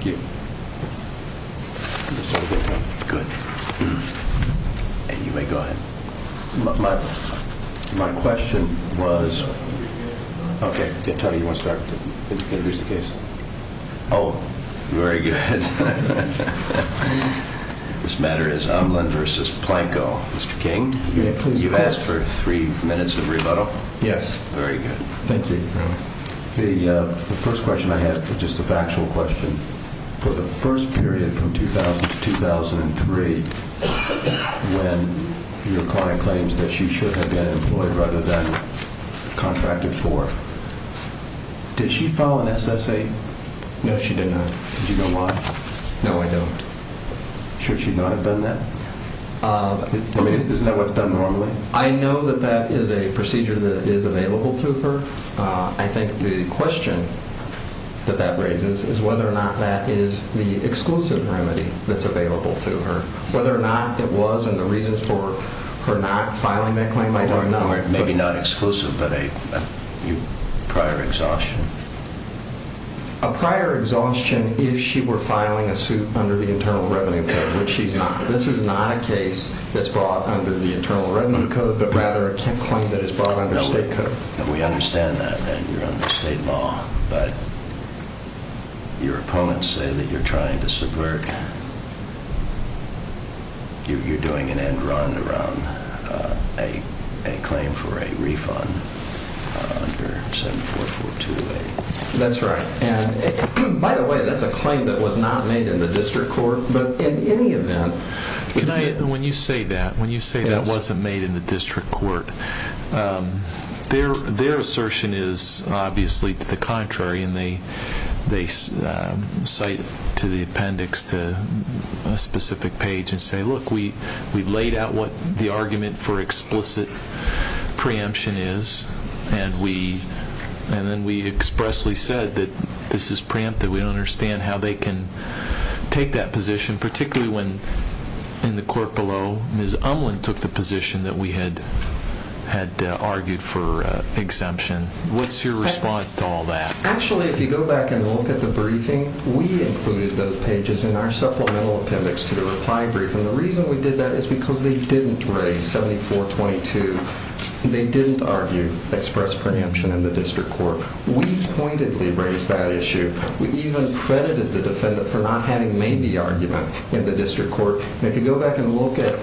Q. This matter is Omland v. Planco. Mr. King, you asked for three minutes of rebuttal? A. Yes. Q. Very good. A. Thank you. Q. The first question I have is just a factual question. For the first period from 2000-2003 when your client claims that she should have been employed rather than contracted for, did she file an SSA? A. No, she did not. Q. Did you know why? A. No, I don't. Q. Should she not have done that? I mean, isn't that what's done normally? A. I know that that is a procedure that is available to her. I think the question that that raises is whether or not that is the exclusive remedy that's available to her. Whether or not it was and the reasons for her not filing that claim, I don't know. Q. Maybe not exclusive, but a prior exhaustion? A. A prior exhaustion if she were filing a suit under the Internal Revenue Code, which she's not. This is not a case that's brought under the Internal Revenue Code, but rather a claim that is brought under state code. Q. We understand that. You're under state law, but your opponents say that you're trying to subvert. You're doing an end run around a claim for a refund under 7442A. A. That's right. And by the way, that's a claim that was not made in the district court, but in any event... Q. When you say that, when you say that wasn't made in the district court, their assertion is obviously to the contrary and they cite to the appendix to a specific page and say, look, we laid out what the argument for explicit preemption is and then we expressly said that this is preemptive. We don't understand how they can take that position, particularly when in the court below Ms. Umland took the position that we had argued for exemption. What's your response to all that? A. Actually, if you go back and look at the briefing, we included those pages in our supplemental appendix to the reply briefing. The reason we did that is because they didn't raise 7422. They didn't argue express preemption in the district court. We pointedly raised that issue. We even credited the defendant for not having made the argument in the district court. And if you go back and look at,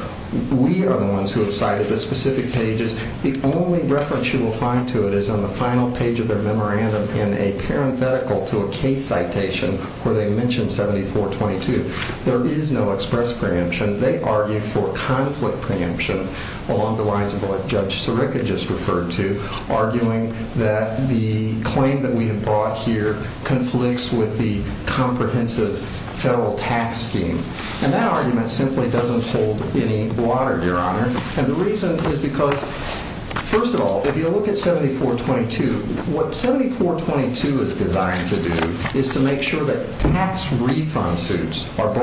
we are the ones who have cited the specific pages. The only reference you will find to it is on the final page of their memorandum in a parenthetical to a case citation where they mentioned 7422. There is no express preemption. They argued for conflict preemption along the lines of what Judge Sirica just referred to, arguing that the claim that we have brought here conflicts with the comprehensive federal tax scheme. And that argument simply doesn't hold any water, Your Honor. And the reason is because, first of all, if you look at 7422, what 7422 is designed to do is to make sure that tax collectors are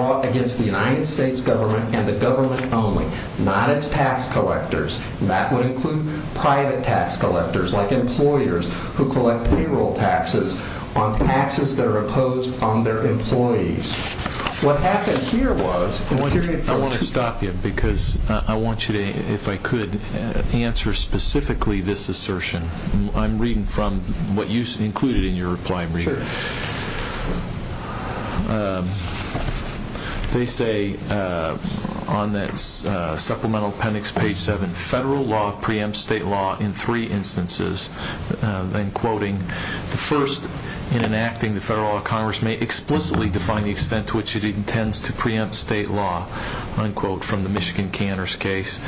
included only, not its tax collectors. And that would include private tax collectors like employers who collect payroll taxes on taxes that are imposed on their employees. What happened here was... I want to stop you because I want you to, if I could, answer specifically this assertion. I'm reading from what you included in your reply briefing. Sure. They say on that supplemental appendix, page 7, federal law preempts state law in three instances, then quoting, the first, in enacting the federal law, Congress may explicitly define the extent to which it intends to preempt state law, unquote, from the Michigan Cantor's case.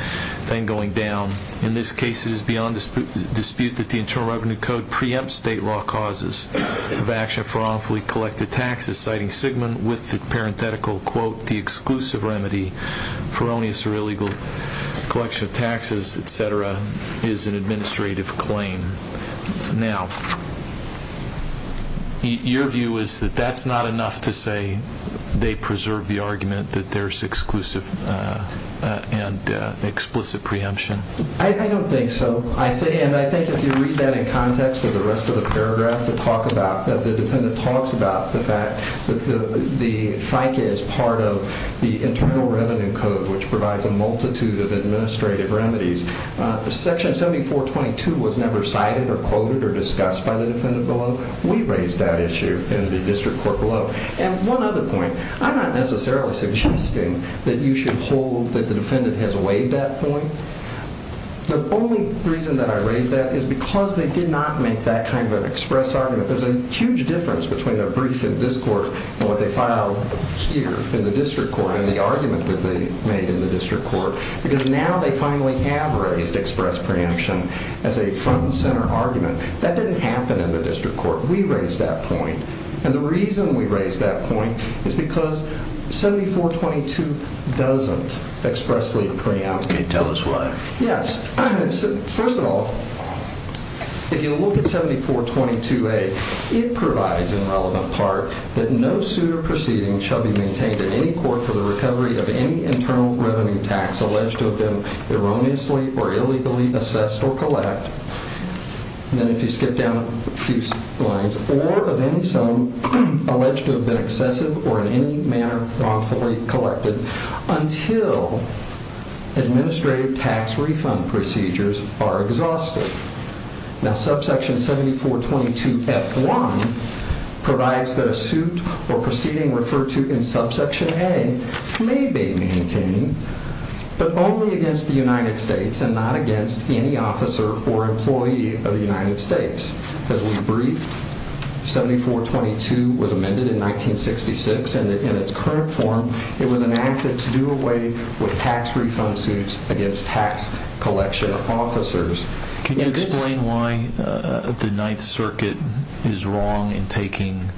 Then going down, in this case, it is beyond dispute that the Internal Revenue Code preempts state law causes of action for wrongfully collected taxes, citing Sigmund with the parenthetical, quote, the exclusive remedy for erroneous or illegal collection of taxes, et cetera, is an administrative claim. Now, your view is that that's not enough to say they preserve the argument that there's exclusive and explicit preemption? I don't think so. And I think if you read that in context with the rest of the paragraph that the defendant talks about the fact that the FICA is part of the Internal Revenue Code, which provides a multitude of administrative remedies, Section 7422 was never cited or quoted or discussed by the defendant below. We raised that issue in the district court below. And one other point, I'm not necessarily suggesting that you should hold that the defendant has waived that point. The only reason that I raise that is because they did not make that kind of an express argument. There's a huge difference between a brief in this court and what they filed here in the district court and the argument that they made in the district court. Because now they finally have raised express preemption as a front and center argument. That didn't happen in the district court. We raised that point. And the reason we raised that point is because 7422 doesn't expressly preempt. Okay, tell us why. Yes. First of all, if you look at 7422A, it provides in relevant part that no suit or proceeding shall be maintained in any court for the recovery of any internal revenue tax alleged of them erroneously or illegally assessed or collect. And then if you skip down a few lines or of any sum alleged to have been excessive or in any manner wrongfully collected until administrative tax refund procedures are exhausted. Now, subsection 7422F1 provides that a suit or proceeding referred to in subsection A may be maintained, but only against the As we briefed, 7422 was amended in 1966 and in its current form it was enacted to do away with tax refund suits against tax collection officers. Can you explain why the Ninth Circuit is wrong in taking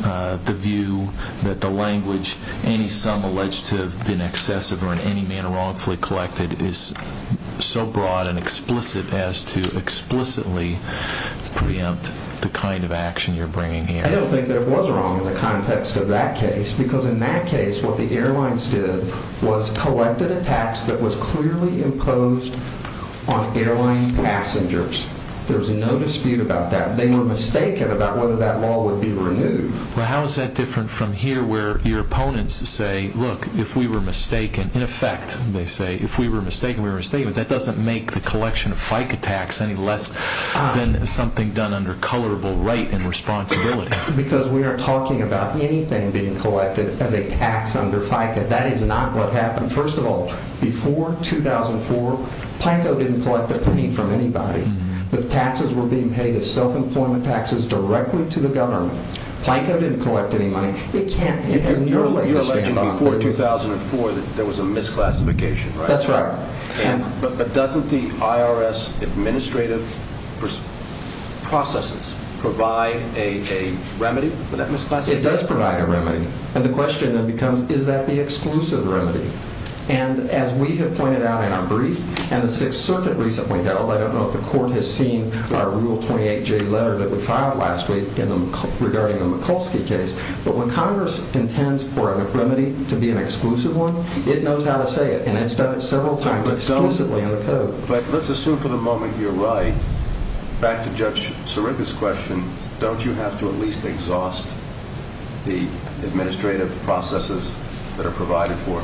the view that the language, any sum alleged to have been excessive or in any manner wrongfully collected is so broad and to explicitly preempt the kind of action you're bringing here? I don't think that it was wrong in the context of that case because in that case what the airlines did was collected a tax that was clearly imposed on airline passengers. There was no dispute about that. They were mistaken about whether that law would be renewed. Well, how is that different from here where your opponents say, look, if we were mistaken, in effect, they say, if we were mistaken, we were mistaken, but that doesn't make the tax any less than something done under colorable right and responsibility. Because we are talking about anything being collected as a tax under FICA. That is not what happened. First of all, before 2004, Planco didn't collect a penny from anybody. The taxes were being paid as self-employment taxes directly to the government. Planco didn't collect any money. They can't. You're alleging before 2004 that there was a misclassification, right? That's right. But doesn't the IRS administrative processes provide a remedy for that misclassification? It does provide a remedy. And the question then becomes, is that the exclusive remedy? And as we have pointed out in our brief and the Sixth Circuit recently held, I don't know if the court has seen our Rule 28J letter that we filed last week regarding the Mikulski case, but when Congress intends for a remedy to be an exclusive one, it knows how to say it, and it's done it several times explicitly in the code. But let's assume for the moment you're right, back to Judge Sirica's question, don't you have to at least exhaust the administrative processes that are provided for?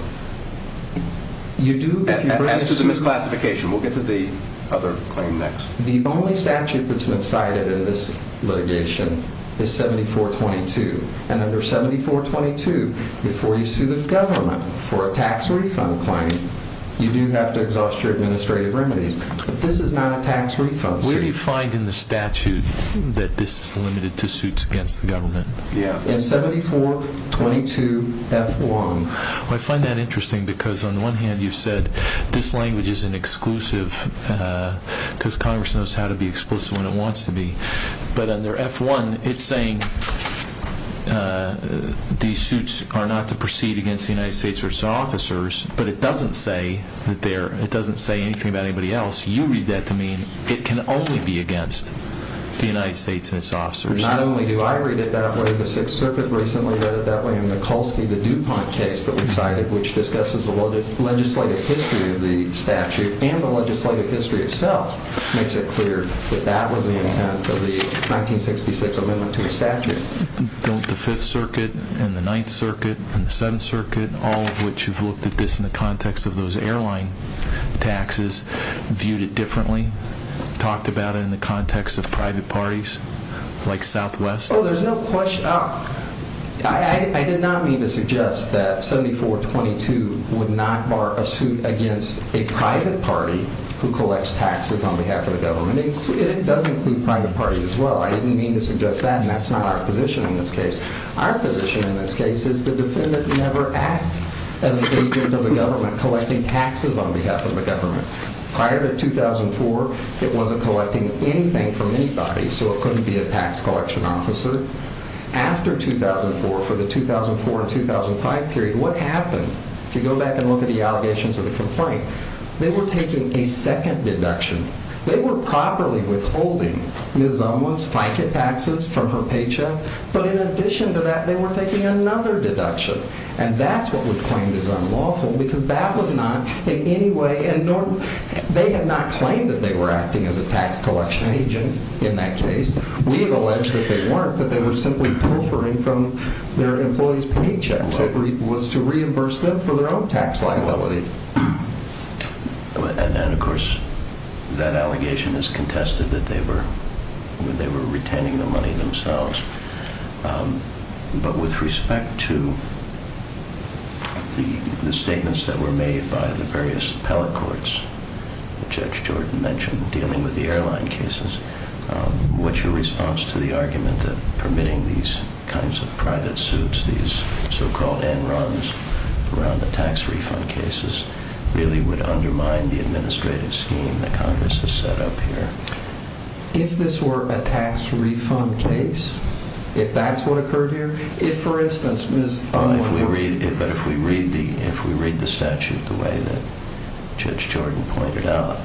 You do if you bring it to... As to the misclassification. We'll get to the other claim next. The only statute that's been cited in this litigation is 7422. And under 7422, before you sue the government for a tax refund claim, you do have to exhaust your administrative remedies. But this is not a tax refund suit. Where do you find in the statute that this is limited to suits against the government? Yeah, in 7422F1. Well, I find that interesting because on the one hand, you said this language is an exclusive because Congress knows how to be explicit when it wants to be. But under F1, it's saying these suits are not to proceed against the United States or its officers, but it doesn't say anything about anybody else. You read that to mean it can only be against the United States and its officers. Not only do I read it that way, the Sixth Circuit recently read it that way, and Mikulski, the DuPont case that we cited, which discusses the legislative history of the statute and the legislative history itself, makes it clear that that was the intent of the 1966 amendment to the statute. Don't the Fifth Circuit and the Ninth Circuit and the Seventh Circuit, all of which have looked at this in the context of those airline taxes, viewed it differently? Talked about it in the context of private parties like Southwest? Oh, there's no question. I did not mean to suggest that 7422 would not bar a suit against a private party who collects taxes on behalf of the government. It does include private parties as well. I didn't mean to suggest that, and that's not our position in this case. Our position in this case is the defendant never act as an agent of the government collecting taxes on behalf of the government. Prior to 2004, it wasn't collecting anything from anybody, so it couldn't be a tax collection officer. After 2004, for the 2004 and 2005 period, what happened? If you go back and look at the allegations of the complaint, they were not taking a second deduction. They were properly withholding Ms. Umla's FICA taxes from her paycheck, but in addition to that, they were taking another deduction, and that's what was claimed as unlawful, because that was not in any way, and they have not claimed that they were acting as a tax collection agent in that case. We have alleged that they weren't, that they were simply proffering from their employees' paychecks. It was to And then, of course, that allegation is contested that they were retaining the money themselves. But with respect to the statements that were made by the various appellate courts, Judge Jordan mentioned dealing with the airline cases, what's your response to the argument that permitting these kinds of private suits, these so-called end runs around the tax refund cases, really would undermine the administrative scheme that Congress has set up here? If this were a tax refund case, if that's what occurred here, if, for instance, Ms. Umla... But if we read the statute the way that Judge Jordan pointed out,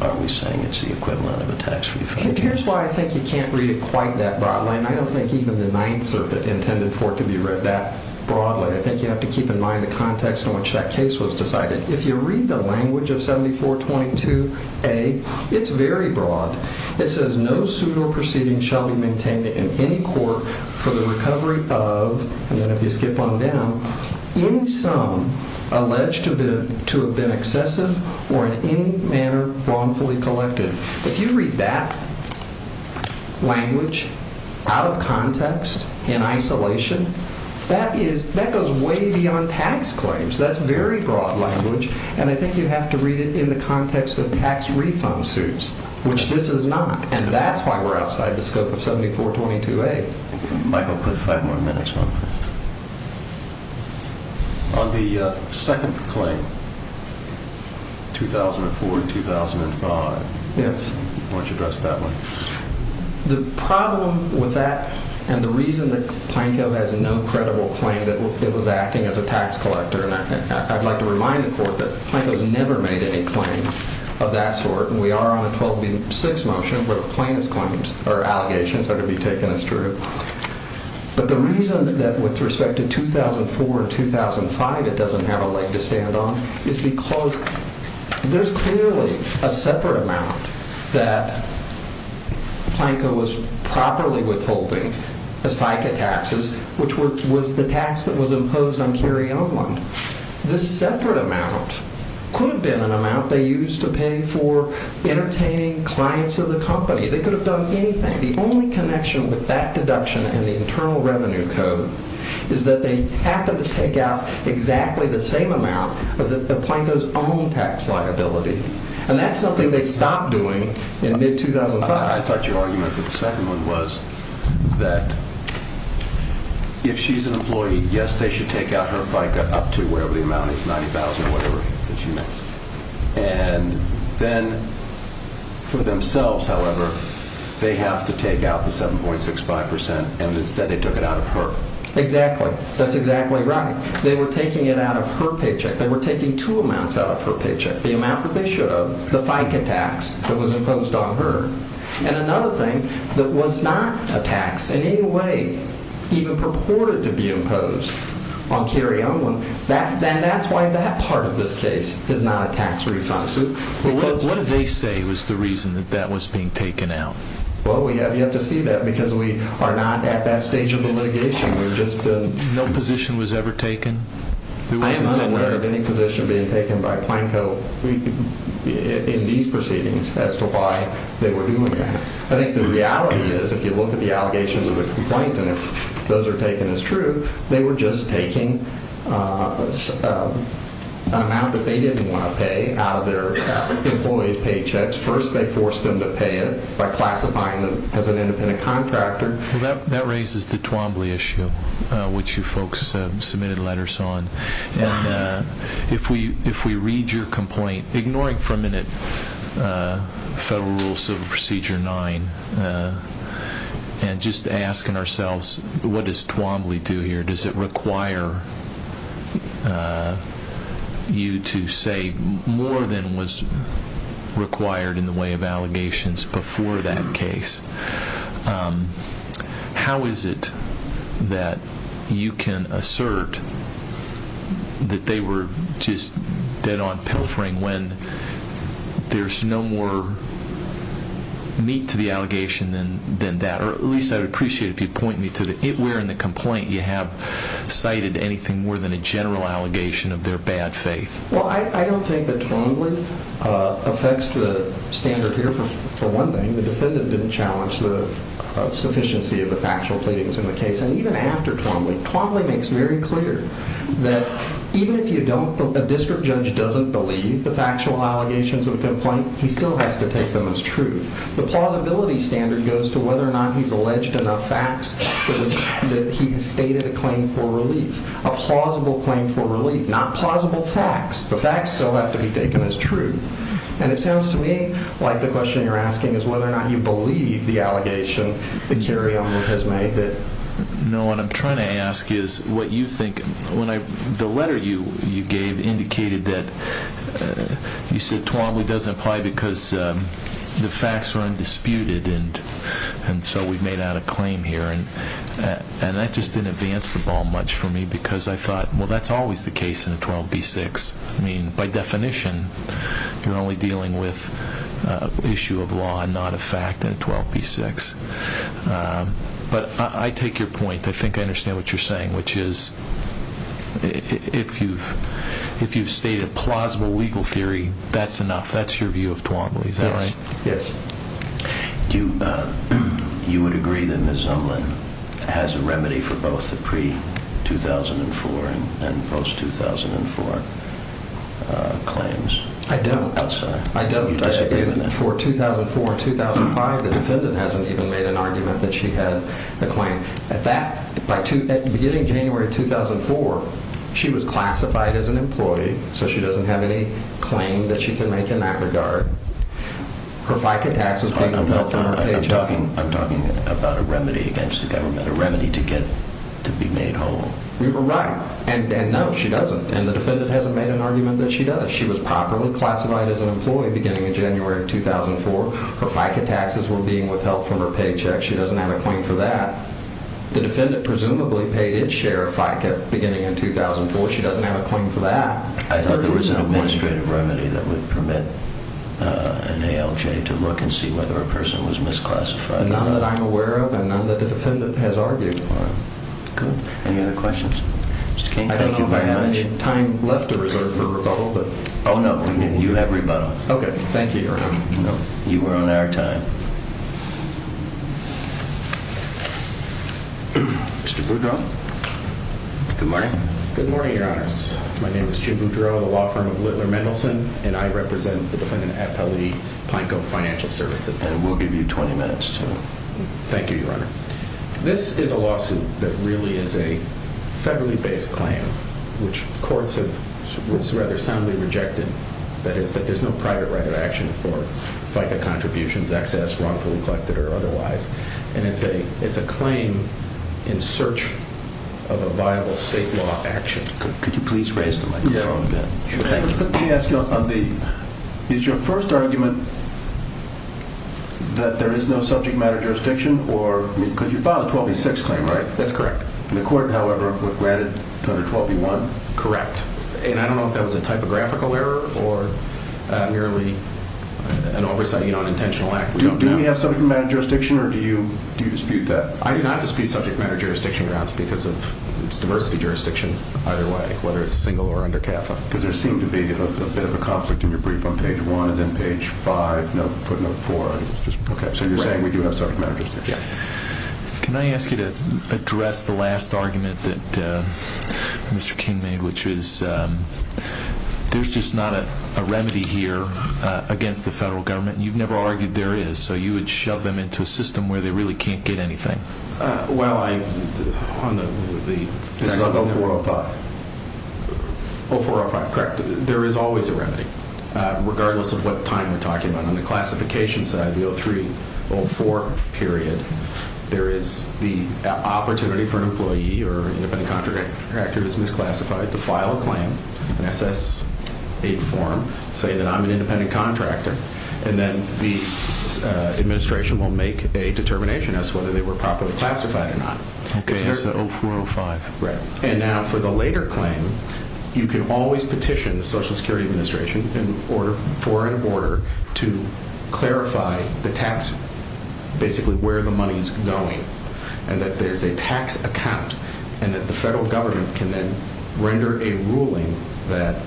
are we saying it's the equivalent of a tax refund case? Here's why I think you can't read it quite that broadly, and I don't think even the Ninth Circuit intended for it to be read that broadly. I think you have to keep in mind the context in which that case was decided. If you read the language of 7422A, it's very broad. It says, no suit or proceeding shall be maintained in any court for the recovery of, and then if you skip on down, any sum alleged to have been excessive or in any manner wrongfully collected. If you read that language out of context, in isolation, that goes way beyond tax claims. That's very broad language, and I think you have to read it in the context of tax refund suits, which this is not, and that's why we're outside the scope of 7422A. Michael, put five more minutes on that. On the second claim, 2004-2005, why don't you address that one? The problem with that, and the reason that Planko has no credible claim that it was acting as a tax collector, and I'd like to remind the court that Planko's never made any claims of that sort, and we are on a 12-6 motion where the plaintiff's claims or allegations are to be taken as true, but the reason that with respect to 2004-2005 it doesn't have a leg to stand on is because there's clearly a separate amount that Planko was properly withholding as FICA taxes, which was the tax that was imposed on Carrie Oland. This separate amount could have been an amount they used to pay for entertaining clients of the company. They could have done anything. The only connection with that deduction and the Internal Revenue Code is that they happened to take out exactly the same amount of Planko's own tax liability, and that's something they stopped doing in mid-2005. I thought your argument for the second one was that if she's an employee, yes, they should take out her FICA up to whatever the amount is, $90,000 or whatever that she makes, and then for themselves, however, they have to take out the 7.65%, and instead they took it out of her. Exactly. That's exactly right. They were taking it out of her paycheck. They were taking two amounts out of her paycheck, the amount that they should have, the FICA tax that was imposed on her, and another thing that was not a tax in any way even purported to be imposed on Carrie Oland, and that's why that part of this case is not a tax refund suit. What did they say was the reason that that was being taken out? Well, we have yet to see that because we are not at that stage of the litigation. No position was ever taken? I am unaware of any position being taken by Planko in these proceedings as to why they were doing that. I think the reality is if you look at the allegations of a complaint and if those are taken as true, they were just taking an amount that they didn't want to pay out of their employee paychecks. First they forced them to pay it by classifying them as an independent contractor. Well, that raises the Twombly issue, which you folks submitted letters on, and if we read your complaint, ignoring for a minute Federal Rule Civil Procedure 9 and just asking ourselves what does Twombly do here? Does it require you to say more than was required in the way of allegations before that case? How is it that you can assert that they were just dead on pilfering when there's no more meat to the allegation than that? Or at least I would appreciate it if you point me to where in the complaint you have cited anything more than a general allegation of their bad faith. Well, I don't think that Twombly affects the standard here for one thing. The defendant didn't challenge the sufficiency of the factual pleadings in the case. And even after Twombly, Twombly makes very clear that even if a district judge doesn't believe the factual allegations of a complaint, he still has to take them as true. The plausibility standard goes to whether or not he's alleged enough facts that he's stated a claim for relief. A plausible claim for relief, not plausible facts. The facts still have to be taken as true. And it sounds to me like the question you're asking is whether or not you believe the allegation that Carrie Elmore has made. No, what I'm trying to ask is what you think. The letter you gave indicated that you said the facts are undisputed and so we've made out a claim here. And that just didn't advance the ball much for me because I thought, well, that's always the case in a 12b-6. I mean, by definition, you're only dealing with an issue of law and not a fact in a 12b-6. But I take your point. I think I understand what you're saying, which is if you've stated a You would agree that Ms. Zunlan has a remedy for both the pre-2004 and post-2004 claims? I don't. I'm sorry. I don't. For 2004 and 2005, the defendant hasn't even made an argument that she had a claim. At the beginning of January of 2004, she was classified as an employee, so she I'm talking about a remedy against the government, a remedy to be made whole. We were right. And no, she doesn't. And the defendant hasn't made an argument that she does. She was properly classified as an employee beginning in January of 2004. Her FICA taxes were being withheld from her paycheck. She doesn't have a claim for that. The defendant presumably paid its share of FICA beginning in 2004. She doesn't have a claim for that. I thought there was an administrative remedy that would permit an ALJ to look and see whether a person was misclassified. None that I'm aware of, and none that the defendant has argued upon. Good. Any other questions? I don't know if I have any time left to reserve for rebuttal, but... Oh, no. You have rebuttal. Okay. Thank you, Your Honor. You were on our time. Mr. Bergdahl? Good morning. Good morning, Your Honors. My name is Jim Boudreaux, a law firm of Littler Mendelsohn, and I represent the defendant at Pelley Pine Cove Financial Services. And we'll give you 20 minutes to... Thank you, Your Honor. This is a lawsuit that really is a federally-based claim, which courts have rather soundly rejected. That is, that there's no private right of action for FICA contributions, excess, wrongfully And it's a claim in search of a viable state law action. Could you please raise the microphone again? Thank you. Let me ask you on the... Is your first argument that there is no subject matter jurisdiction or... Because you filed a 12B6 claim, right? That's correct. And the court, however, granted 12B1? Correct. And I don't know if that was a typographical error or merely an oversight, you know, an intentional act. Do you have subject matter jurisdiction or do you dispute that? I do not dispute subject matter jurisdiction grounds because it's diversity jurisdiction either way, whether it's single or under CAFA. Because there seemed to be a bit of a conflict in your brief on page 1 and then page 5, footnote 4. So you're saying we do have subject matter jurisdiction? Yeah. Can I ask you to address the last argument that Mr. King made, which is there's just not a remedy here against the federal government. You've never argued there is, so you would shove them into a system where they really can't get anything. Well, I... On the... This is on 0405. 0405, correct. There is always a remedy, regardless of what time we're talking about. On the classification side, the 0304 period, there is the opportunity for an employee or independent contractor that's misclassified to file a claim, an SSA form, say that I'm an independent contractor, and then the administration will make a determination as to whether they were properly classified or not. Okay, so 0405. Right. And now for the later claim, you can always petition the Social Security Administration for an order to clarify the tax, basically where the money is going, and that there's a tax account, and that the federal government can then render a ruling that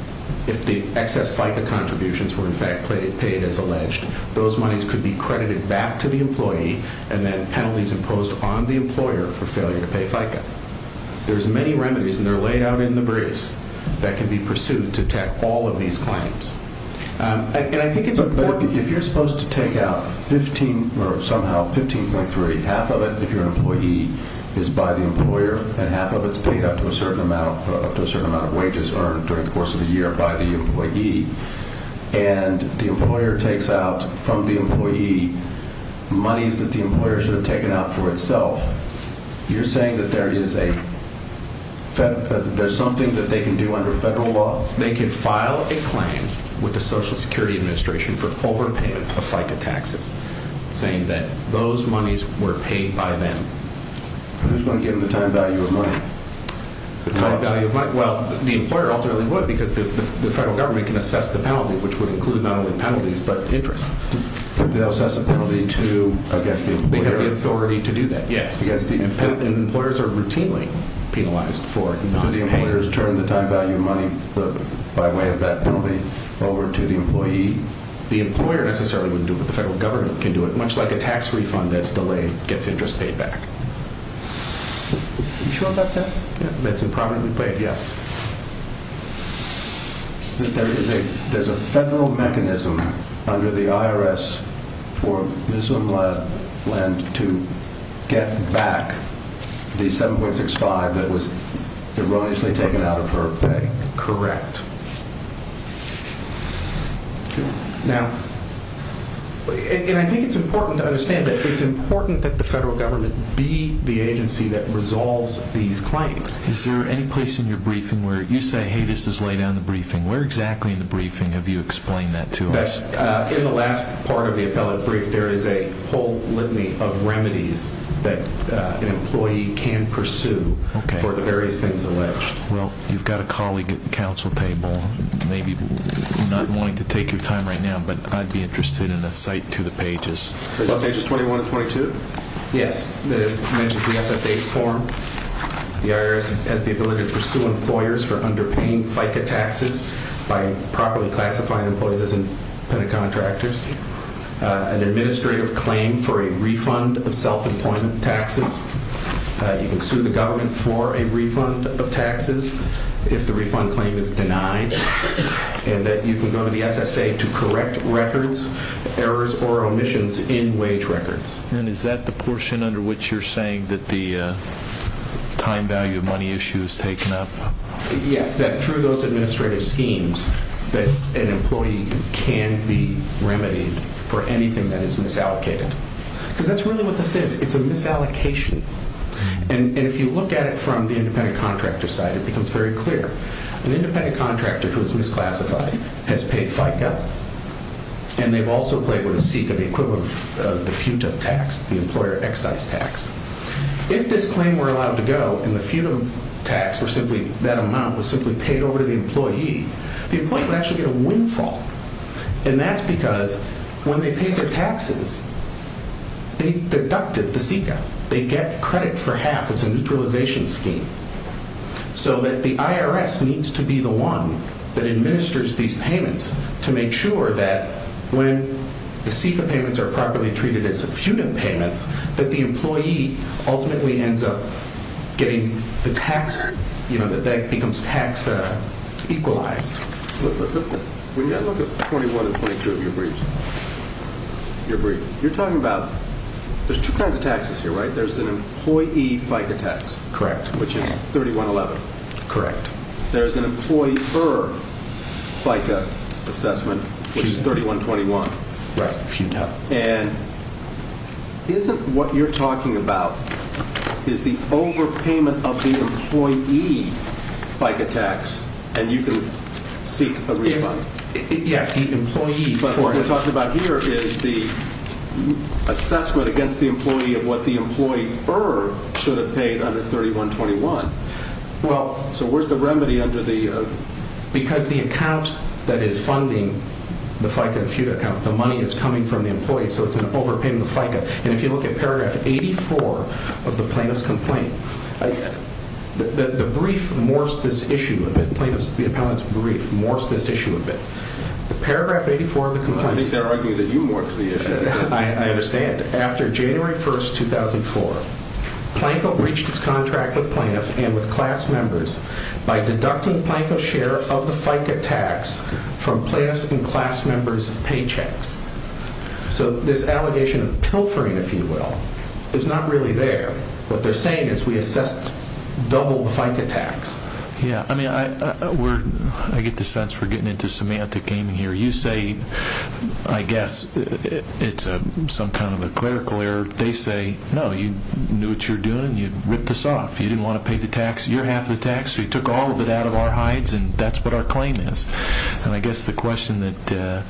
if the excess FICA contributions were in fact paid as alleged, those monies could be credited back to the employee and then penalties imposed on the employer for failure to pay FICA. There's many remedies, and they're laid out in the briefs that can be pursued to attack all of these claims. And I think it's important... But if you're supposed to take out 15, or somehow 15.3, half of it, if you're an employee, is by the employer, and half of it's paid up to a certain amount of wages earned during the course of the year by the employee, and the employer takes out from the employee monies that the employer should have taken out for itself, you're saying that there's something that they can do under federal law? They can file a claim with the Social Security Administration for overpayment of FICA taxes, saying that those monies were paid by them. Who's going to give them the time value of money? The time value of money? Well, the employer ultimately would, because the federal government can assess the penalty, which would include not only penalties, but interest. They'll assess a penalty to... They have the authority to do that, yes. And employers are routinely penalized for not paying. Do the employers turn the time value of money by way of that penalty over to the employee? The employer necessarily wouldn't do it, but the federal government can do it, much like a tax refund that's delayed gets interest paid back. Are you sure about that? That's impromptu, but yes. There's a federal mechanism under the IRS for Ms. O'Malley to get back the $7.65 that was erroneously taken out of her pay. Correct. Now, and I think it's important to understand that it's important that the federal government be the agency that resolves these claims. Is there any place in your briefing where you say, hey, this is laid out in the briefing? Where exactly in the briefing have you explained that to us? In the last part of the appellate brief, there is a whole litany of remedies that an employee can pursue for the various things alleged. Well, you've got a colleague at the council table. Maybe you're not wanting to take your time right now, but I'd be interested in a cite to the pages. Pages 21 and 22? Yes. It mentions the SSA form. The IRS has the ability to pursue employers for underpaying FICA taxes by properly classifying employees as independent contractors. An administrative claim for a refund of self-employment taxes. You can sue the government for a refund of taxes if the refund claim is denied. And that you can go to the SSA to correct records, errors, or omissions in wage records. And is that the portion under which you're saying that the time value of money issue is taken up? Yeah, that through those administrative schemes that an employee can be remedied for anything that is misallocated. Because that's really what this is. It's a misallocation. And if you look at it from the independent contractor side, it becomes very clear. An independent contractor who is misclassified has paid FICA. And they've also played with a seat of the equivalent of the FUTA tax, the employer excise tax. If this claim were allowed to go and the FUTA tax or simply that amount was simply paid over to the employee, the employee would actually get a windfall. And that's because when they pay their taxes, they deducted the FICA. They get credit for half. It's a neutralization scheme. So that the IRS needs to be the one that administers these payments to make sure that when the FICA payments are properly treated as FUTA payments, that the employee ultimately ends up getting the tax, you know, that that becomes tax equalized. When you look at 21 and 22 of your briefs, you're talking about there's two kinds of taxes here, right? There's an employee FICA tax. Correct. Which is 3111. Correct. There's an employer FICA assessment, which is 3121. Right, FUTA. And isn't what you're talking about is the overpayment of the employee FICA tax and you can seek a refund? Yeah, the employee. But what we're talking about here is the assessment against the employee of what the employer should have paid under 3121. Well, so where's the remedy under the... Because the account that is funding the FICA and FUTA account, the money is coming from the employee, so it's an overpayment of FICA. And if you look at paragraph 84 of the plaintiff's complaint, the brief morphs this issue a bit. The appellant's brief morphs this issue a bit. The paragraph 84 of the complaint... I think they're arguing that you morphed the issue. I understand. And after January 1, 2004, Planko reached his contract with plaintiffs and with class members by deducting Planko's share of the FICA tax from plaintiffs and class members' paychecks. So this allegation of pilfering, if you will, is not really there. What they're saying is we assessed double the FICA tax. Yeah, I mean, I get the sense we're getting into semantic gaming here. You say, I guess it's some kind of a clerical error. They say, no, you knew what you were doing. You ripped us off. You didn't want to pay the tax. You're half the tax. We took all of it out of our hides, and that's what our claim is. And I guess the question that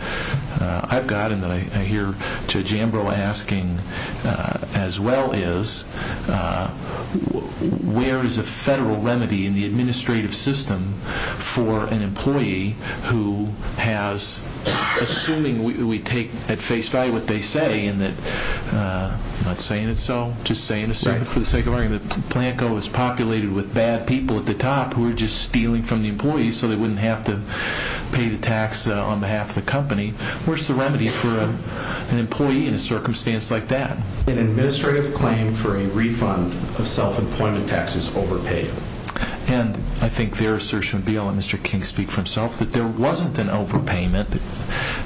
I've got and that I hear Judge Ambrose asking as well is, where is a federal remedy in the administrative system for an employee who has, assuming we take at face value what they say, and that, I'm not saying it's so, just saying it for the sake of argument, that Planco is populated with bad people at the top who are just stealing from the employees so they wouldn't have to pay the tax on behalf of the company. Where's the remedy for an employee in a circumstance like that? An administrative claim for a refund of self-employment tax is overpaid. And I think their assertion would be, I'll let Mr. King speak for himself, that there wasn't an overpayment,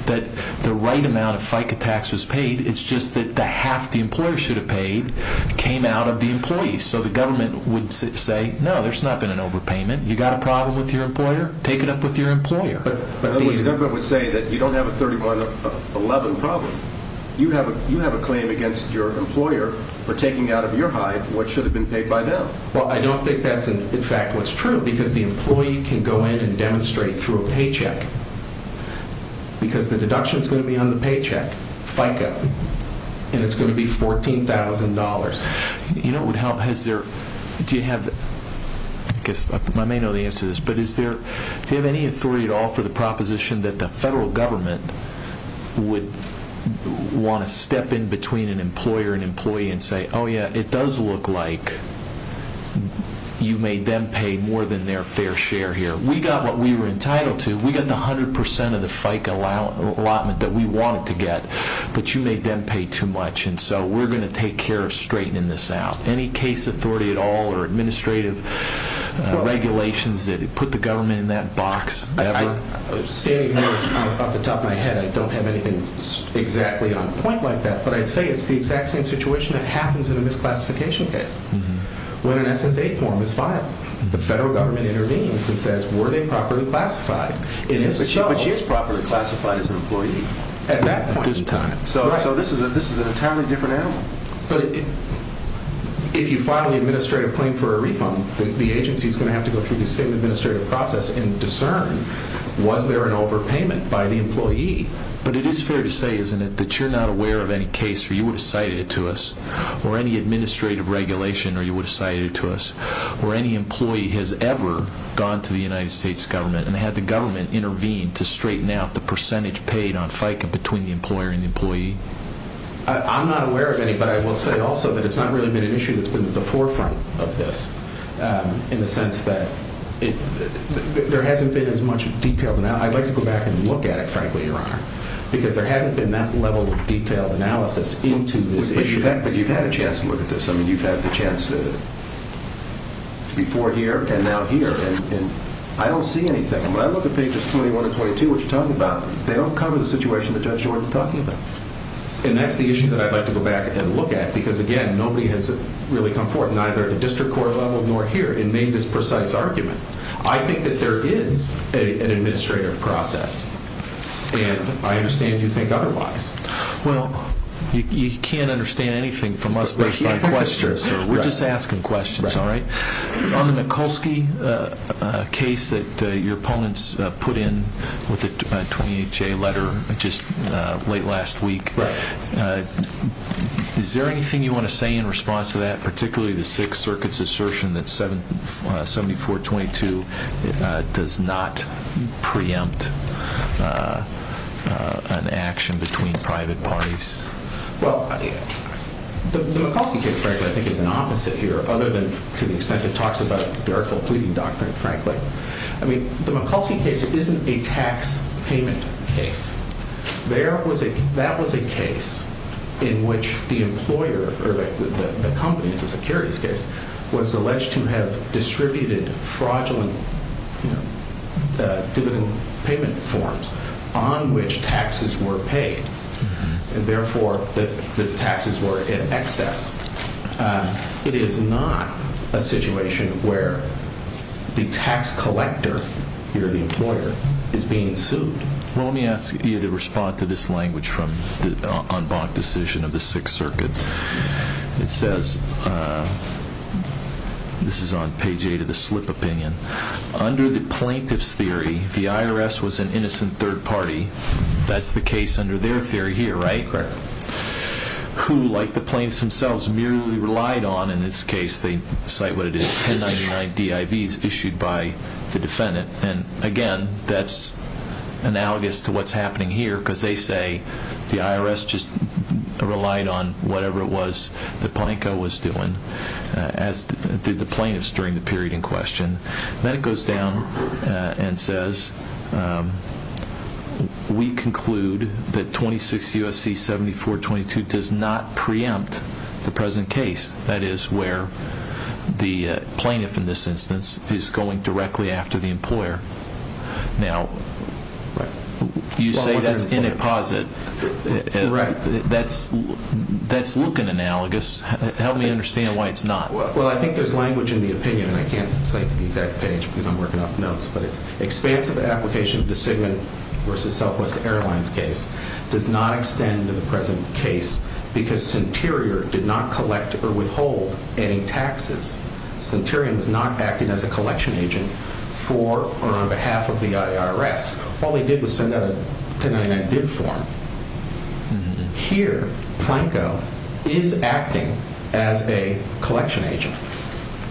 that the right amount of FICA tax was paid. It's just that half the employer should have paid came out of the employees. So the government would say, no, there's not been an overpayment. You got a problem with your employer? Take it up with your employer. But the government would say that you don't have a 3111 problem. You have a claim against your employer for taking out of your hide what should have been paid by them. Well, I don't think that's, in fact, what's true because the employee can go in and demonstrate through a paycheck because the deduction is going to be on the paycheck, FICA, and it's going to be $14,000. Do you have any authority at all for the proposition that the federal government would want to step in between an employer and employee and say, oh yeah, it does look like you made them pay more than their fair share here. So we got what we were entitled to. We got the 100% of the FICA allotment that we wanted to get, but you made them pay too much, and so we're going to take care of straightening this out. Any case authority at all or administrative regulations that put the government in that box ever? I'm standing here off the top of my head. I don't have anything exactly on point like that, but I'd say it's the exact same situation that happens in a misclassification case. When an SSA form is filed, the federal government intervenes and says, were they properly classified? But she is properly classified as an employee. At that point. At this time. So this is an entirely different animal. But if you file the administrative claim for a refund, the agency is going to have to go through the same administrative process and discern was there an overpayment by the employee. But it is fair to say, isn't it, that you're not aware of any case where you would have cited it to us or any administrative regulation where you would have cited it to us or any employee has ever gone to the United States government and had the government intervene to straighten out the percentage paid on FICOM between the employer and the employee? I'm not aware of any, but I will say also that it's not really been an issue that's been at the forefront of this in the sense that there hasn't been as much detailed analysis. I'd like to go back and look at it, frankly, Your Honor, because there hasn't been that level of detailed analysis into this issue. But you've had a chance to look at this. I mean, you've had the chance before here and now here. And I don't see anything. When I look at pages 21 and 22, which you're talking about, they don't cover the situation that Judge Jordan is talking about. And that's the issue that I'd like to go back and look at because, again, nobody has really come forward, neither at the district court level nor here, and made this precise argument. I think that there is an administrative process. And I understand you think otherwise. Well, you can't understand anything from us based on questions, sir. We're just asking questions, all right? On the Mikulski case that your opponents put in with the 28-J letter just late last week, is there anything you want to say in response to that, particularly the Sixth Circuit's assertion that 7422 does not preempt an action between private parties? Well, the Mikulski case, frankly, I think is an opposite here, other than to the extent it talks about the artful pleading doctrine, frankly. I mean, the Mikulski case isn't a tax payment case. That was a case in which the employer, or the company, it's a securities case, was alleged to have distributed fraudulent dividend payment forms on which taxes were paid, and therefore the taxes were in excess. It is not a situation where the tax collector, your employer, is being sued. Well, let me ask you to respond to this language from the en banc decision of the Sixth Circuit. It says, this is on page 8 of the slip opinion, under the plaintiff's theory, the IRS was an innocent third party. That's the case under their theory here, right? Correct. Who, like the plaintiffs themselves, merely relied on, in this case, they cite what it is, 1099 DIVs issued by the defendant. And, again, that's analogous to what's happening here, because they say the IRS just relied on whatever it was that Planko was doing, as did the plaintiffs during the period in question. Then it goes down and says, we conclude that 26 U.S.C. 7422 does not preempt the present case. That is where the plaintiff, in this instance, is going directly after the employer. Now, you say that's in a posit. Correct. That's looking analogous. Help me understand why it's not. Well, I think there's language in the opinion, and I can't cite the exact page because I'm working off notes, but it's expansive application of the Sigmund v. Southwest Airlines case does not extend to the present case because Sinterior did not collect or withhold any taxes. Sinterior was not acting as a collection agent for or on behalf of the IRS. All they did was send out a 1099 DIV form. Here, Planko is acting as a collection agent.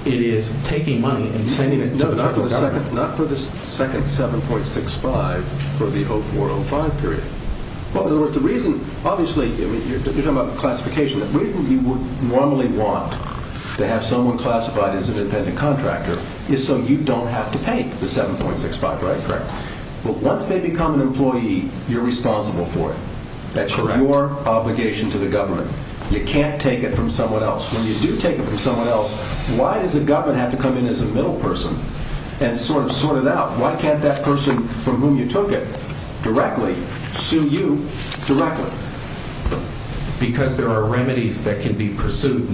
It is taking money and sending it to the federal government. No, not for the second 7.65 for the 0405 period. Well, in other words, the reason, obviously, you're talking about classification. The reason you would normally want to have someone classified as an independent contractor is so you don't have to pay the 7.65, right? Correct. Well, once they become an employee, you're responsible for it. That's correct. That's your obligation to the government. You can't take it from someone else. When you do take it from someone else, why does the government have to come in as a middle person and sort it out? Why can't that person from whom you took it directly sue you directly? Because there are remedies that can be pursued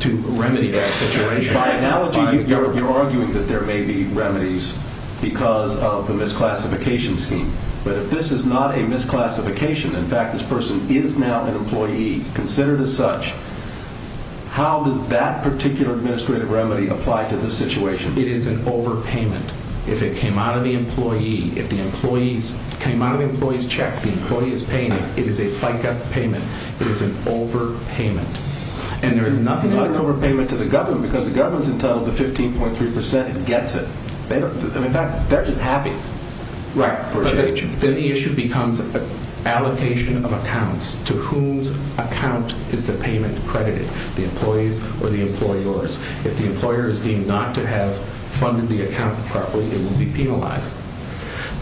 to remedy that situation. By analogy, you're arguing that there may be remedies because of the misclassification scheme. But if this is not a misclassification, in fact, this person is now an employee, considered as such, how does that particular administrative remedy apply to this situation? It is an overpayment. If it came out of the employee's check, the employee is paying it. It is a FICA payment. It is an overpayment. And there is nothing like overpayment to the government because the government is entitled to 15.3% and gets it. In fact, they're just happy. Right. Then the issue becomes allocation of accounts. To whose account is the payment credited? The employee's or the employer's? If the employer is deemed not to have funded the account properly, it will be penalized.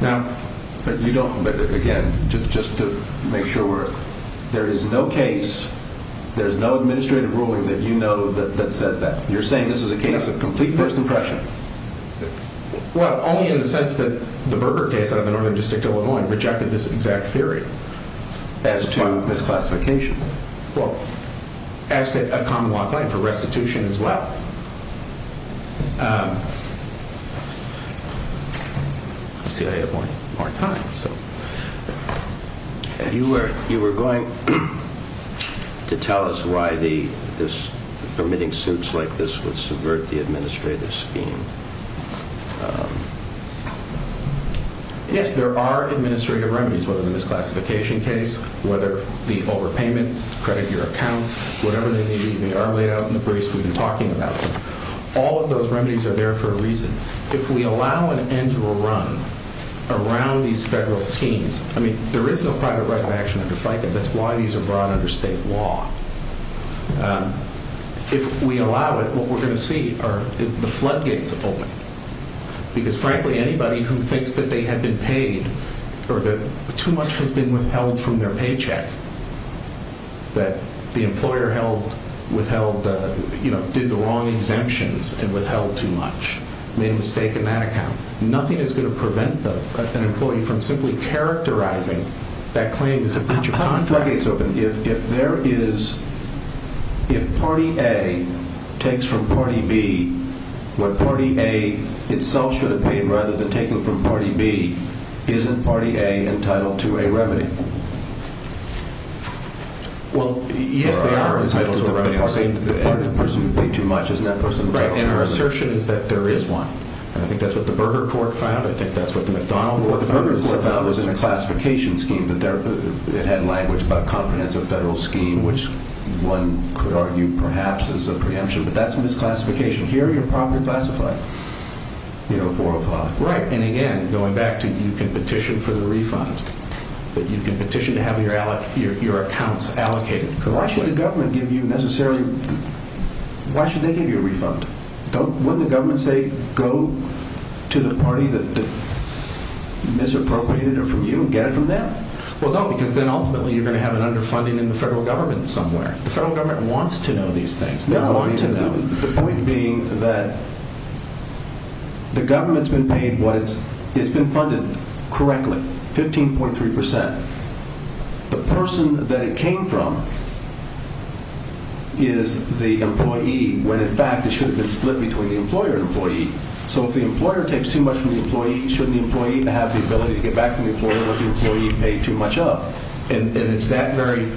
But you don't, again, just to make sure, there is no case, there is no administrative ruling that you know that says that. You're saying this is a case of complete first impression. Well, only in the sense that the Berger case out of the Northern District, Illinois, rejected this exact theory as to misclassification. Well, as to a common law claim for restitution as well. Let's see, I have more time. You were going to tell us why permitting suits like this would subvert the administrative scheme. Yes, there are administrative remedies, whether the misclassification case, whether the overpayment, credit your account, whatever they may be, they are laid out in the briefs we've been talking about. All of those remedies are there for a reason. If we allow an end to a run around these federal schemes, I mean, there is no private right of action under FICA. That's why these are brought under state law. If we allow it, what we're going to see are the floodgates open. Because frankly, anybody who thinks that they have been paid or that too much has been withheld from their paycheck, that the employer did the wrong exemptions and withheld too much, made a mistake in that account, nothing is going to prevent an employee from simply characterizing that claim as a breach of contract. If party A takes from party B what party A itself should have paid rather than taking from party B, isn't party A entitled to a remedy? Well, yes, they are entitled to a remedy. I'm saying the party pursued way too much. Isn't that person entitled to a remedy? Right, and our assertion is that there is one. And I think that's what the Berger court found. I think that's what the McDonald court found. What the Berger court found was in the classification scheme that it had language about comprehensive federal scheme, which one could argue perhaps is a preemption. But that's misclassification. Here, you're properly classified, you know, 405. Right. And again, going back to you can petition for the refund, but you can petition to have your accounts allocated. Correct. Why should the government give you necessarily, why should they give you a refund? Don't, wouldn't the government say, go to the party that misappropriated it from you and get it from them? Well, no, because then ultimately you're going to have an underfunding in the federal government somewhere. The federal government wants to know these things. The point being that the government's been paid what it's, it's been funded correctly, 15.3%. The person that it came from is the employee, when in fact it should have been split between the employer and employee. So if the employer takes too much from the employee, shouldn't the employee have the ability to get back from the employer what the employee paid too much of? And it's that very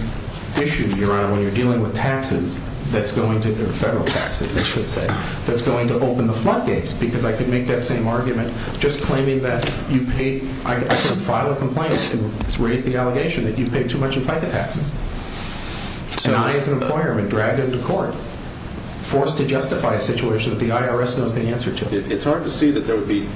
issue, Your Honor, when you're dealing with taxes that's going to, federal taxes they should say, that's going to open the floodgates. Because I could make that same argument, just claiming that you paid, I could file a complaint and raise the allegation that you paid too much in FICA taxes. And I as an employer have been dragged into court, forced to justify a situation that the IRS knows the answer to. It's hard to see that there would be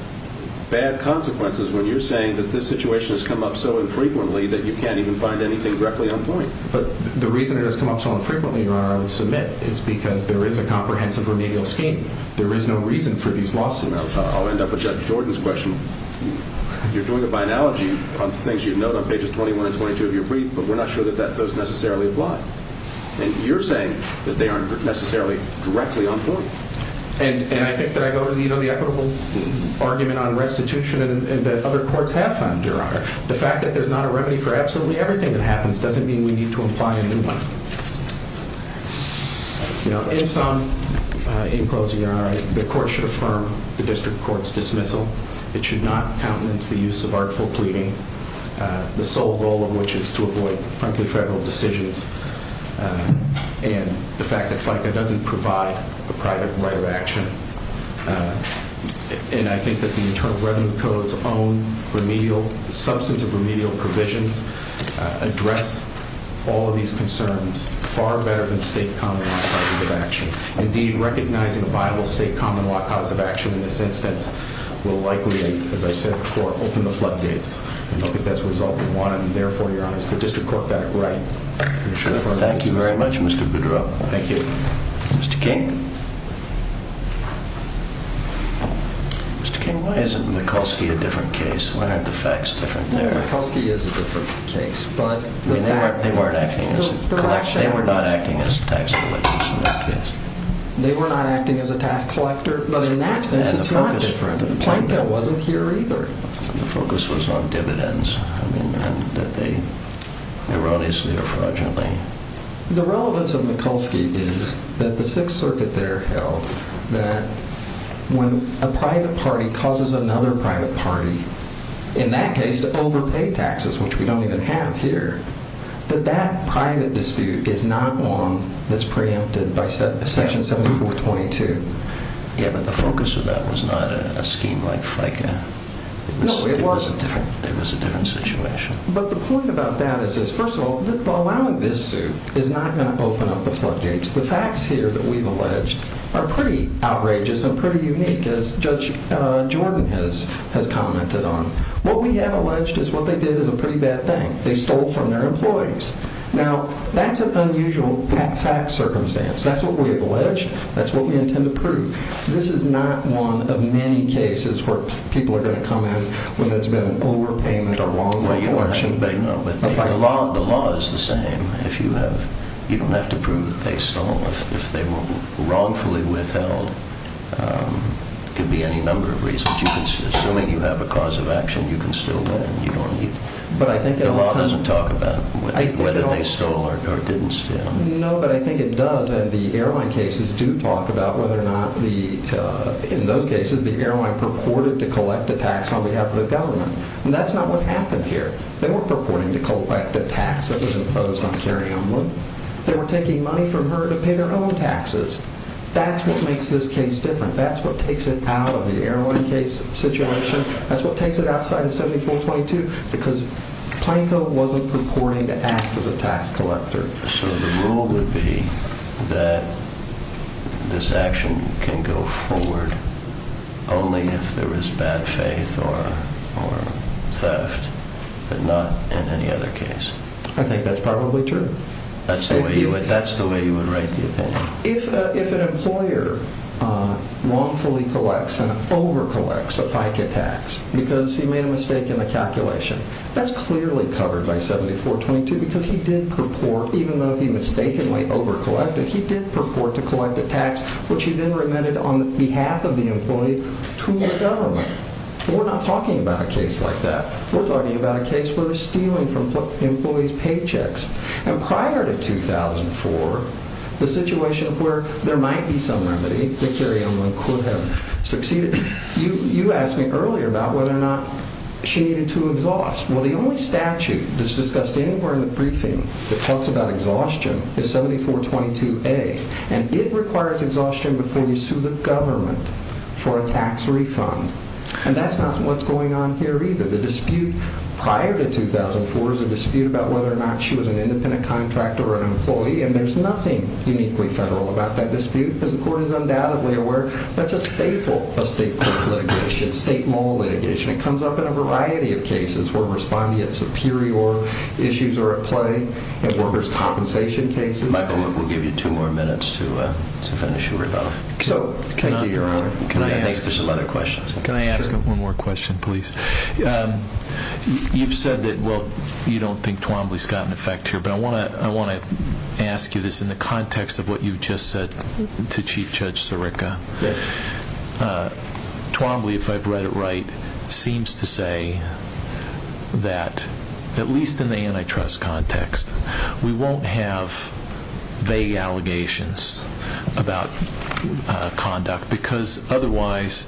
bad consequences when you're saying that this situation has come up so infrequently that you can't even find anything directly on point. But the reason it has come up so infrequently, Your Honor, I would submit, is because there is a comprehensive remedial scheme. There is no reason for these lawsuits. I'll end up with Judge Jordan's question. You're doing it by analogy on things you've noted on pages 21 and 22 of your brief, but we're not sure that those necessarily apply. And you're saying that they aren't necessarily directly on point. And I think that I go to the equitable argument on restitution that other courts have found, Your Honor. The fact that there's not a remedy for absolutely everything that happens doesn't mean we need to imply a new one. In sum, in closing, Your Honor, the court should affirm the district court's dismissal. It should not countenance the use of artful pleading, the sole goal of which is to avoid, frankly, federal decisions, and the fact that FICA doesn't provide a private way of action. And I think that the Internal Revenue Code's own remedial, substantive remedial provisions address all of these concerns far better than state common law causes of action. Indeed, recognizing a viable state common law cause of action in this instance will likely, as I said before, open the floodgates. And I don't think that's a result we want, and therefore, Your Honor, the district court got it right. Thank you very much, Mr. Boudreaux. Thank you. Mr. King? Mr. King, why isn't Mikulski a different case? Why aren't the facts different there? Mikulski is a different case. They weren't acting as collectors. They were not acting as tax collectors in that case. They were not acting as a tax collector. But in that sense, it's not different. The plaintiff wasn't here either. The focus was on dividends. I mean, that they erroneously or fraudulently. The relevance of Mikulski is that the Sixth Circuit there held that when a private party causes another private party, in that case, to overpay taxes, which we don't even have here, that that private dispute is not one that's preempted by Section 7422. Yeah, but the focus of that was not a scheme like FICA. No, it wasn't. It was a different situation. But the point about that is, first of all, allowing this suit is not going to open up the floodgates. The facts here that we've alleged are pretty outrageous and pretty unique, as Judge Jordan has commented on. What we have alleged is what they did is a pretty bad thing. They stole from their employees. Now, that's an unusual fact circumstance. That's what we have alleged. That's what we intend to prove. This is not one of many cases where people are going to come in when there's been an overpayment or wrongful election. The law is the same. You don't have to prove that they stole. If they were wrongfully withheld, it could be any number of reasons. Assuming you have a cause of action, you can still win. The law doesn't talk about whether they stole or didn't steal. No, but I think it does, and the airline cases do talk about whether or not, in those cases, the airline purported to collect a tax on behalf of the government. That's not what happened here. They weren't purporting to collect a tax that was imposed on Carrie Umbland. They were taking money from her to pay their own taxes. That's what makes this case different. That's what takes it out of the airline case situation. That's what takes it outside of 7422, because Planko wasn't purporting to act as a tax collector. So the rule would be that this action can go forward only if there was bad faith or theft, but not in any other case. I think that's probably true. That's the way you would write the opinion. If an employer wrongfully collects and overcollects a FICA tax because he made a mistake in the calculation, that's clearly covered by 7422 because he did purport, even though he mistakenly overcollected, he did purport to collect a tax, which he then remitted on behalf of the employee to the government. We're not talking about a case like that. We're talking about a case where they're stealing from employees' paychecks. And prior to 2004, the situation where there might be some remedy, that Carrie Umbland could have succeeded, you asked me earlier about whether or not she needed to exhaust. Well, the only statute that's discussed anywhere in the briefing that talks about exhaustion is 7422A. And it requires exhaustion before you sue the government for a tax refund. And that's not what's going on here either. The dispute prior to 2004 is a dispute about whether or not she was an independent contractor or an employee, and there's nothing uniquely federal about that dispute, as the court is undoubtedly aware. That's a staple of state litigation, state law litigation. It comes up in a variety of cases where respondeat superior issues are at play, in workers' compensation cases. Michael, we'll give you two more minutes to finish your rebuttal. Thank you, Your Honor. Can I ask one more question, please? You've said that you don't think Twombly's got an effect here, but I want to ask you this in the context of what you've just said to Chief Judge Sirica. Twombly, if I've read it right, seems to say that, at least in the antitrust context, we won't have vague allegations about conduct because otherwise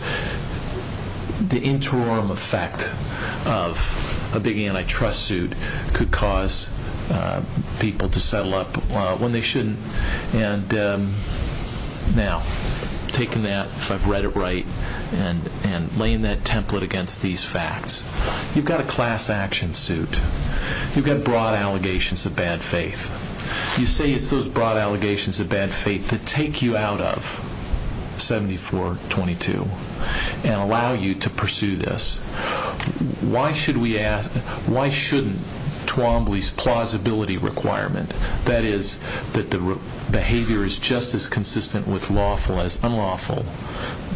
the interim effect of a big antitrust suit could cause people to settle up when they shouldn't. Now, taking that, if I've read it right, and laying that template against these facts, you've got a class action suit. You've got broad allegations of bad faith. You say it's those broad allegations of bad faith that take you out of 7422 and allow you to pursue this. Why shouldn't Twombly's plausibility requirement, that is that the behavior is just as consistent with unlawful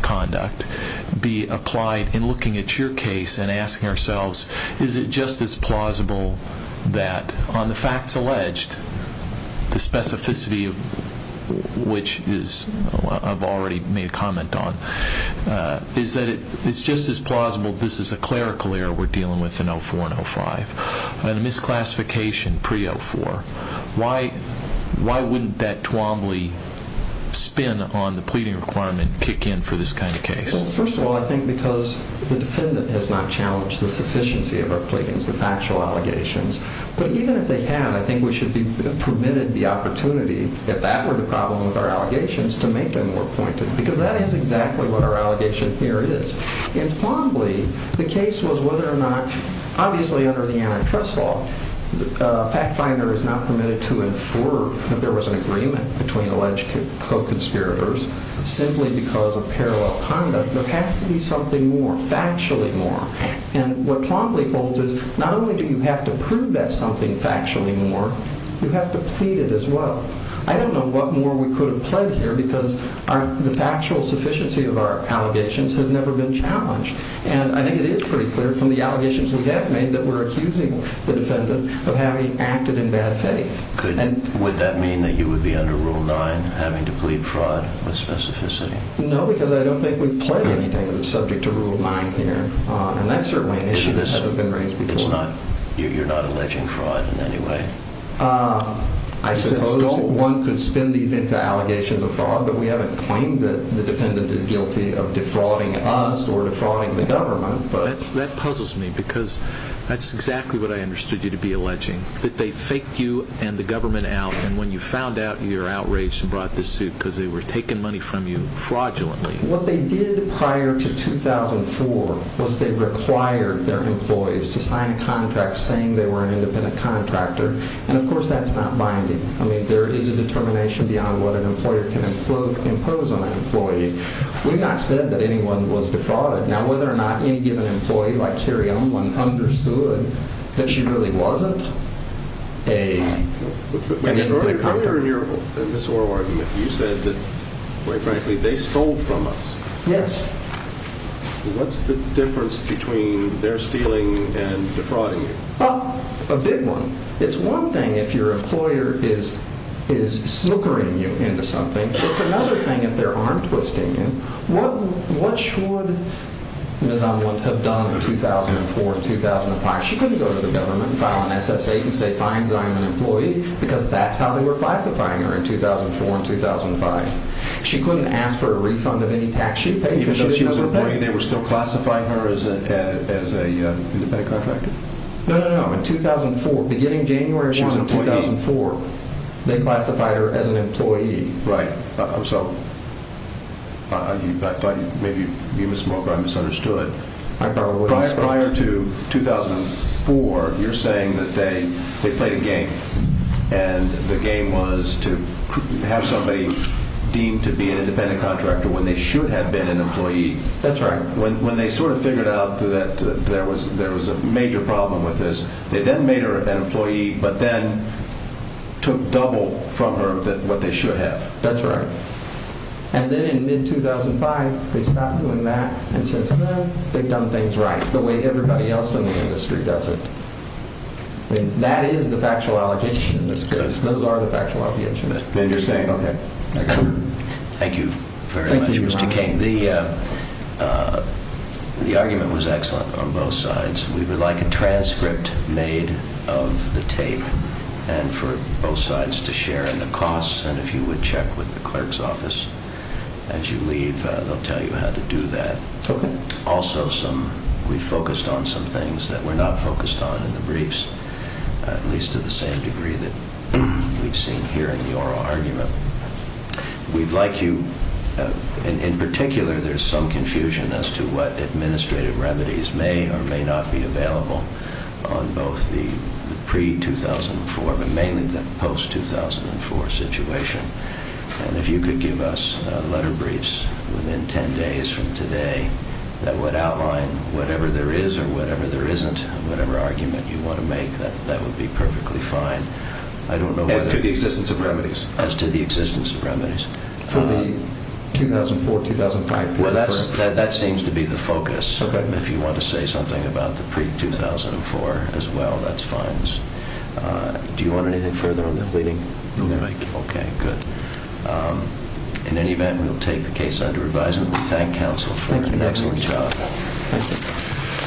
conduct, be applied in looking at your case and asking ourselves, is it just as plausible that on the facts alleged, the specificity of which I've already made a comment on, is that it's just as plausible this is a clerical error we're dealing with in 04 and 05 and a misclassification pre-04. Why wouldn't that Twombly spin on the pleading requirement kick in for this kind of case? Well, first of all, I think because the defendant has not challenged the sufficiency of our pleadings, the factual allegations. But even if they have, I think we should be permitted the opportunity, if that were the problem with our allegations, to make them more pointed because that is exactly what our allegation here is. In Twombly, the case was whether or not, obviously under the antitrust law, a fact finder is not permitted to infer that there was an agreement between alleged co-conspirators simply because of parallel conduct. There has to be something more, factually more. And what Twombly holds is not only do you have to prove that something factually more, you have to plead it as well. I don't know what more we could have pled here because the factual sufficiency of our allegations has never been challenged. And I think it is pretty clear from the allegations we have made that we're accusing the defendant of having acted in bad faith. Would that mean that you would be under Rule 9, having to plead fraud with specificity? No, because I don't think we've pled anything subject to Rule 9 here. And that's certainly an issue that hasn't been raised before. You're not alleging fraud in any way? I suppose one could spin these into allegations of fraud, but we haven't claimed that the defendant is guilty of defrauding us or defrauding the government. That puzzles me because that's exactly what I understood you to be alleging, that they faked you and the government out, and when you found out, you were outraged and brought this suit because they were taking money from you fraudulently. What they did prior to 2004 was they required their employees to sign a contract saying they were an independent contractor, and of course that's not binding. I mean, there is a determination beyond what an employer can impose on an employee. We've not said that anyone was defrauded. Now, whether or not any given employee, like Carrie Elman, understood that she really wasn't an independent contractor. In your earlier argument, you said that, quite frankly, they stole from us. Yes. What's the difference between their stealing and defrauding you? Well, a big one. It's one thing if your employer is snookering you into something. It's another thing if they're arm-twisting you. What should Ms. Elman have done in 2004 and 2005? She couldn't go to the government and file an S.S.A. and say, fine, but I'm an employee, because that's how they were classifying her in 2004 and 2005. She couldn't ask for a refund of any tax she paid because she was an employee. Even though she was an employee, they were still classifying her as an independent contractor? No, no, no. In 2004, beginning January 1, 2004, they classified her as an employee. Right. So I thought maybe you mis-smoked or I misunderstood. I probably mis-smoked. Prior to 2004, you're saying that they played a game, and the game was to have somebody deemed to be an independent contractor when they should have been an employee. That's right. When they sort of figured out that there was a major problem with this, they then made her an employee, but then took double from her what they should have. That's right. And then in mid-2005, they stopped doing that, and since then, they've done things right, the way everybody else in the industry does it. That is the factual allegation. That's good. Those are the factual allegations. Interesting. Okay. Thank you very much, Mr. King. Thank you, Your Honor. The argument was excellent on both sides. We would like a transcript made of the tape, and for both sides to share in the costs, and if you would check with the clerk's office as you leave, they'll tell you how to do that. Okay. Also, we focused on some things that we're not focused on in the briefs, at least to the same degree that we've seen here in the oral argument. We'd like you – in particular, there's some confusion as to what administrative remedies may or may not be available on both the pre-2004, but mainly the post-2004 situation, and if you could give us letter briefs within 10 days from today that would outline whatever there is or whatever there isn't, whatever argument you want to make, that would be perfectly fine. I don't know whether – As to the existence of remedies? As to the existence of remedies. For the 2004-2005 briefs? Well, that seems to be the focus. Okay. If you want to say something about the pre-2004 as well, that's fine. Do you want anything further on the pleading? No, thank you. Okay, good. In any event, we'll take the case under advisement. We thank counsel for an excellent job. Thank you very much. Thank you.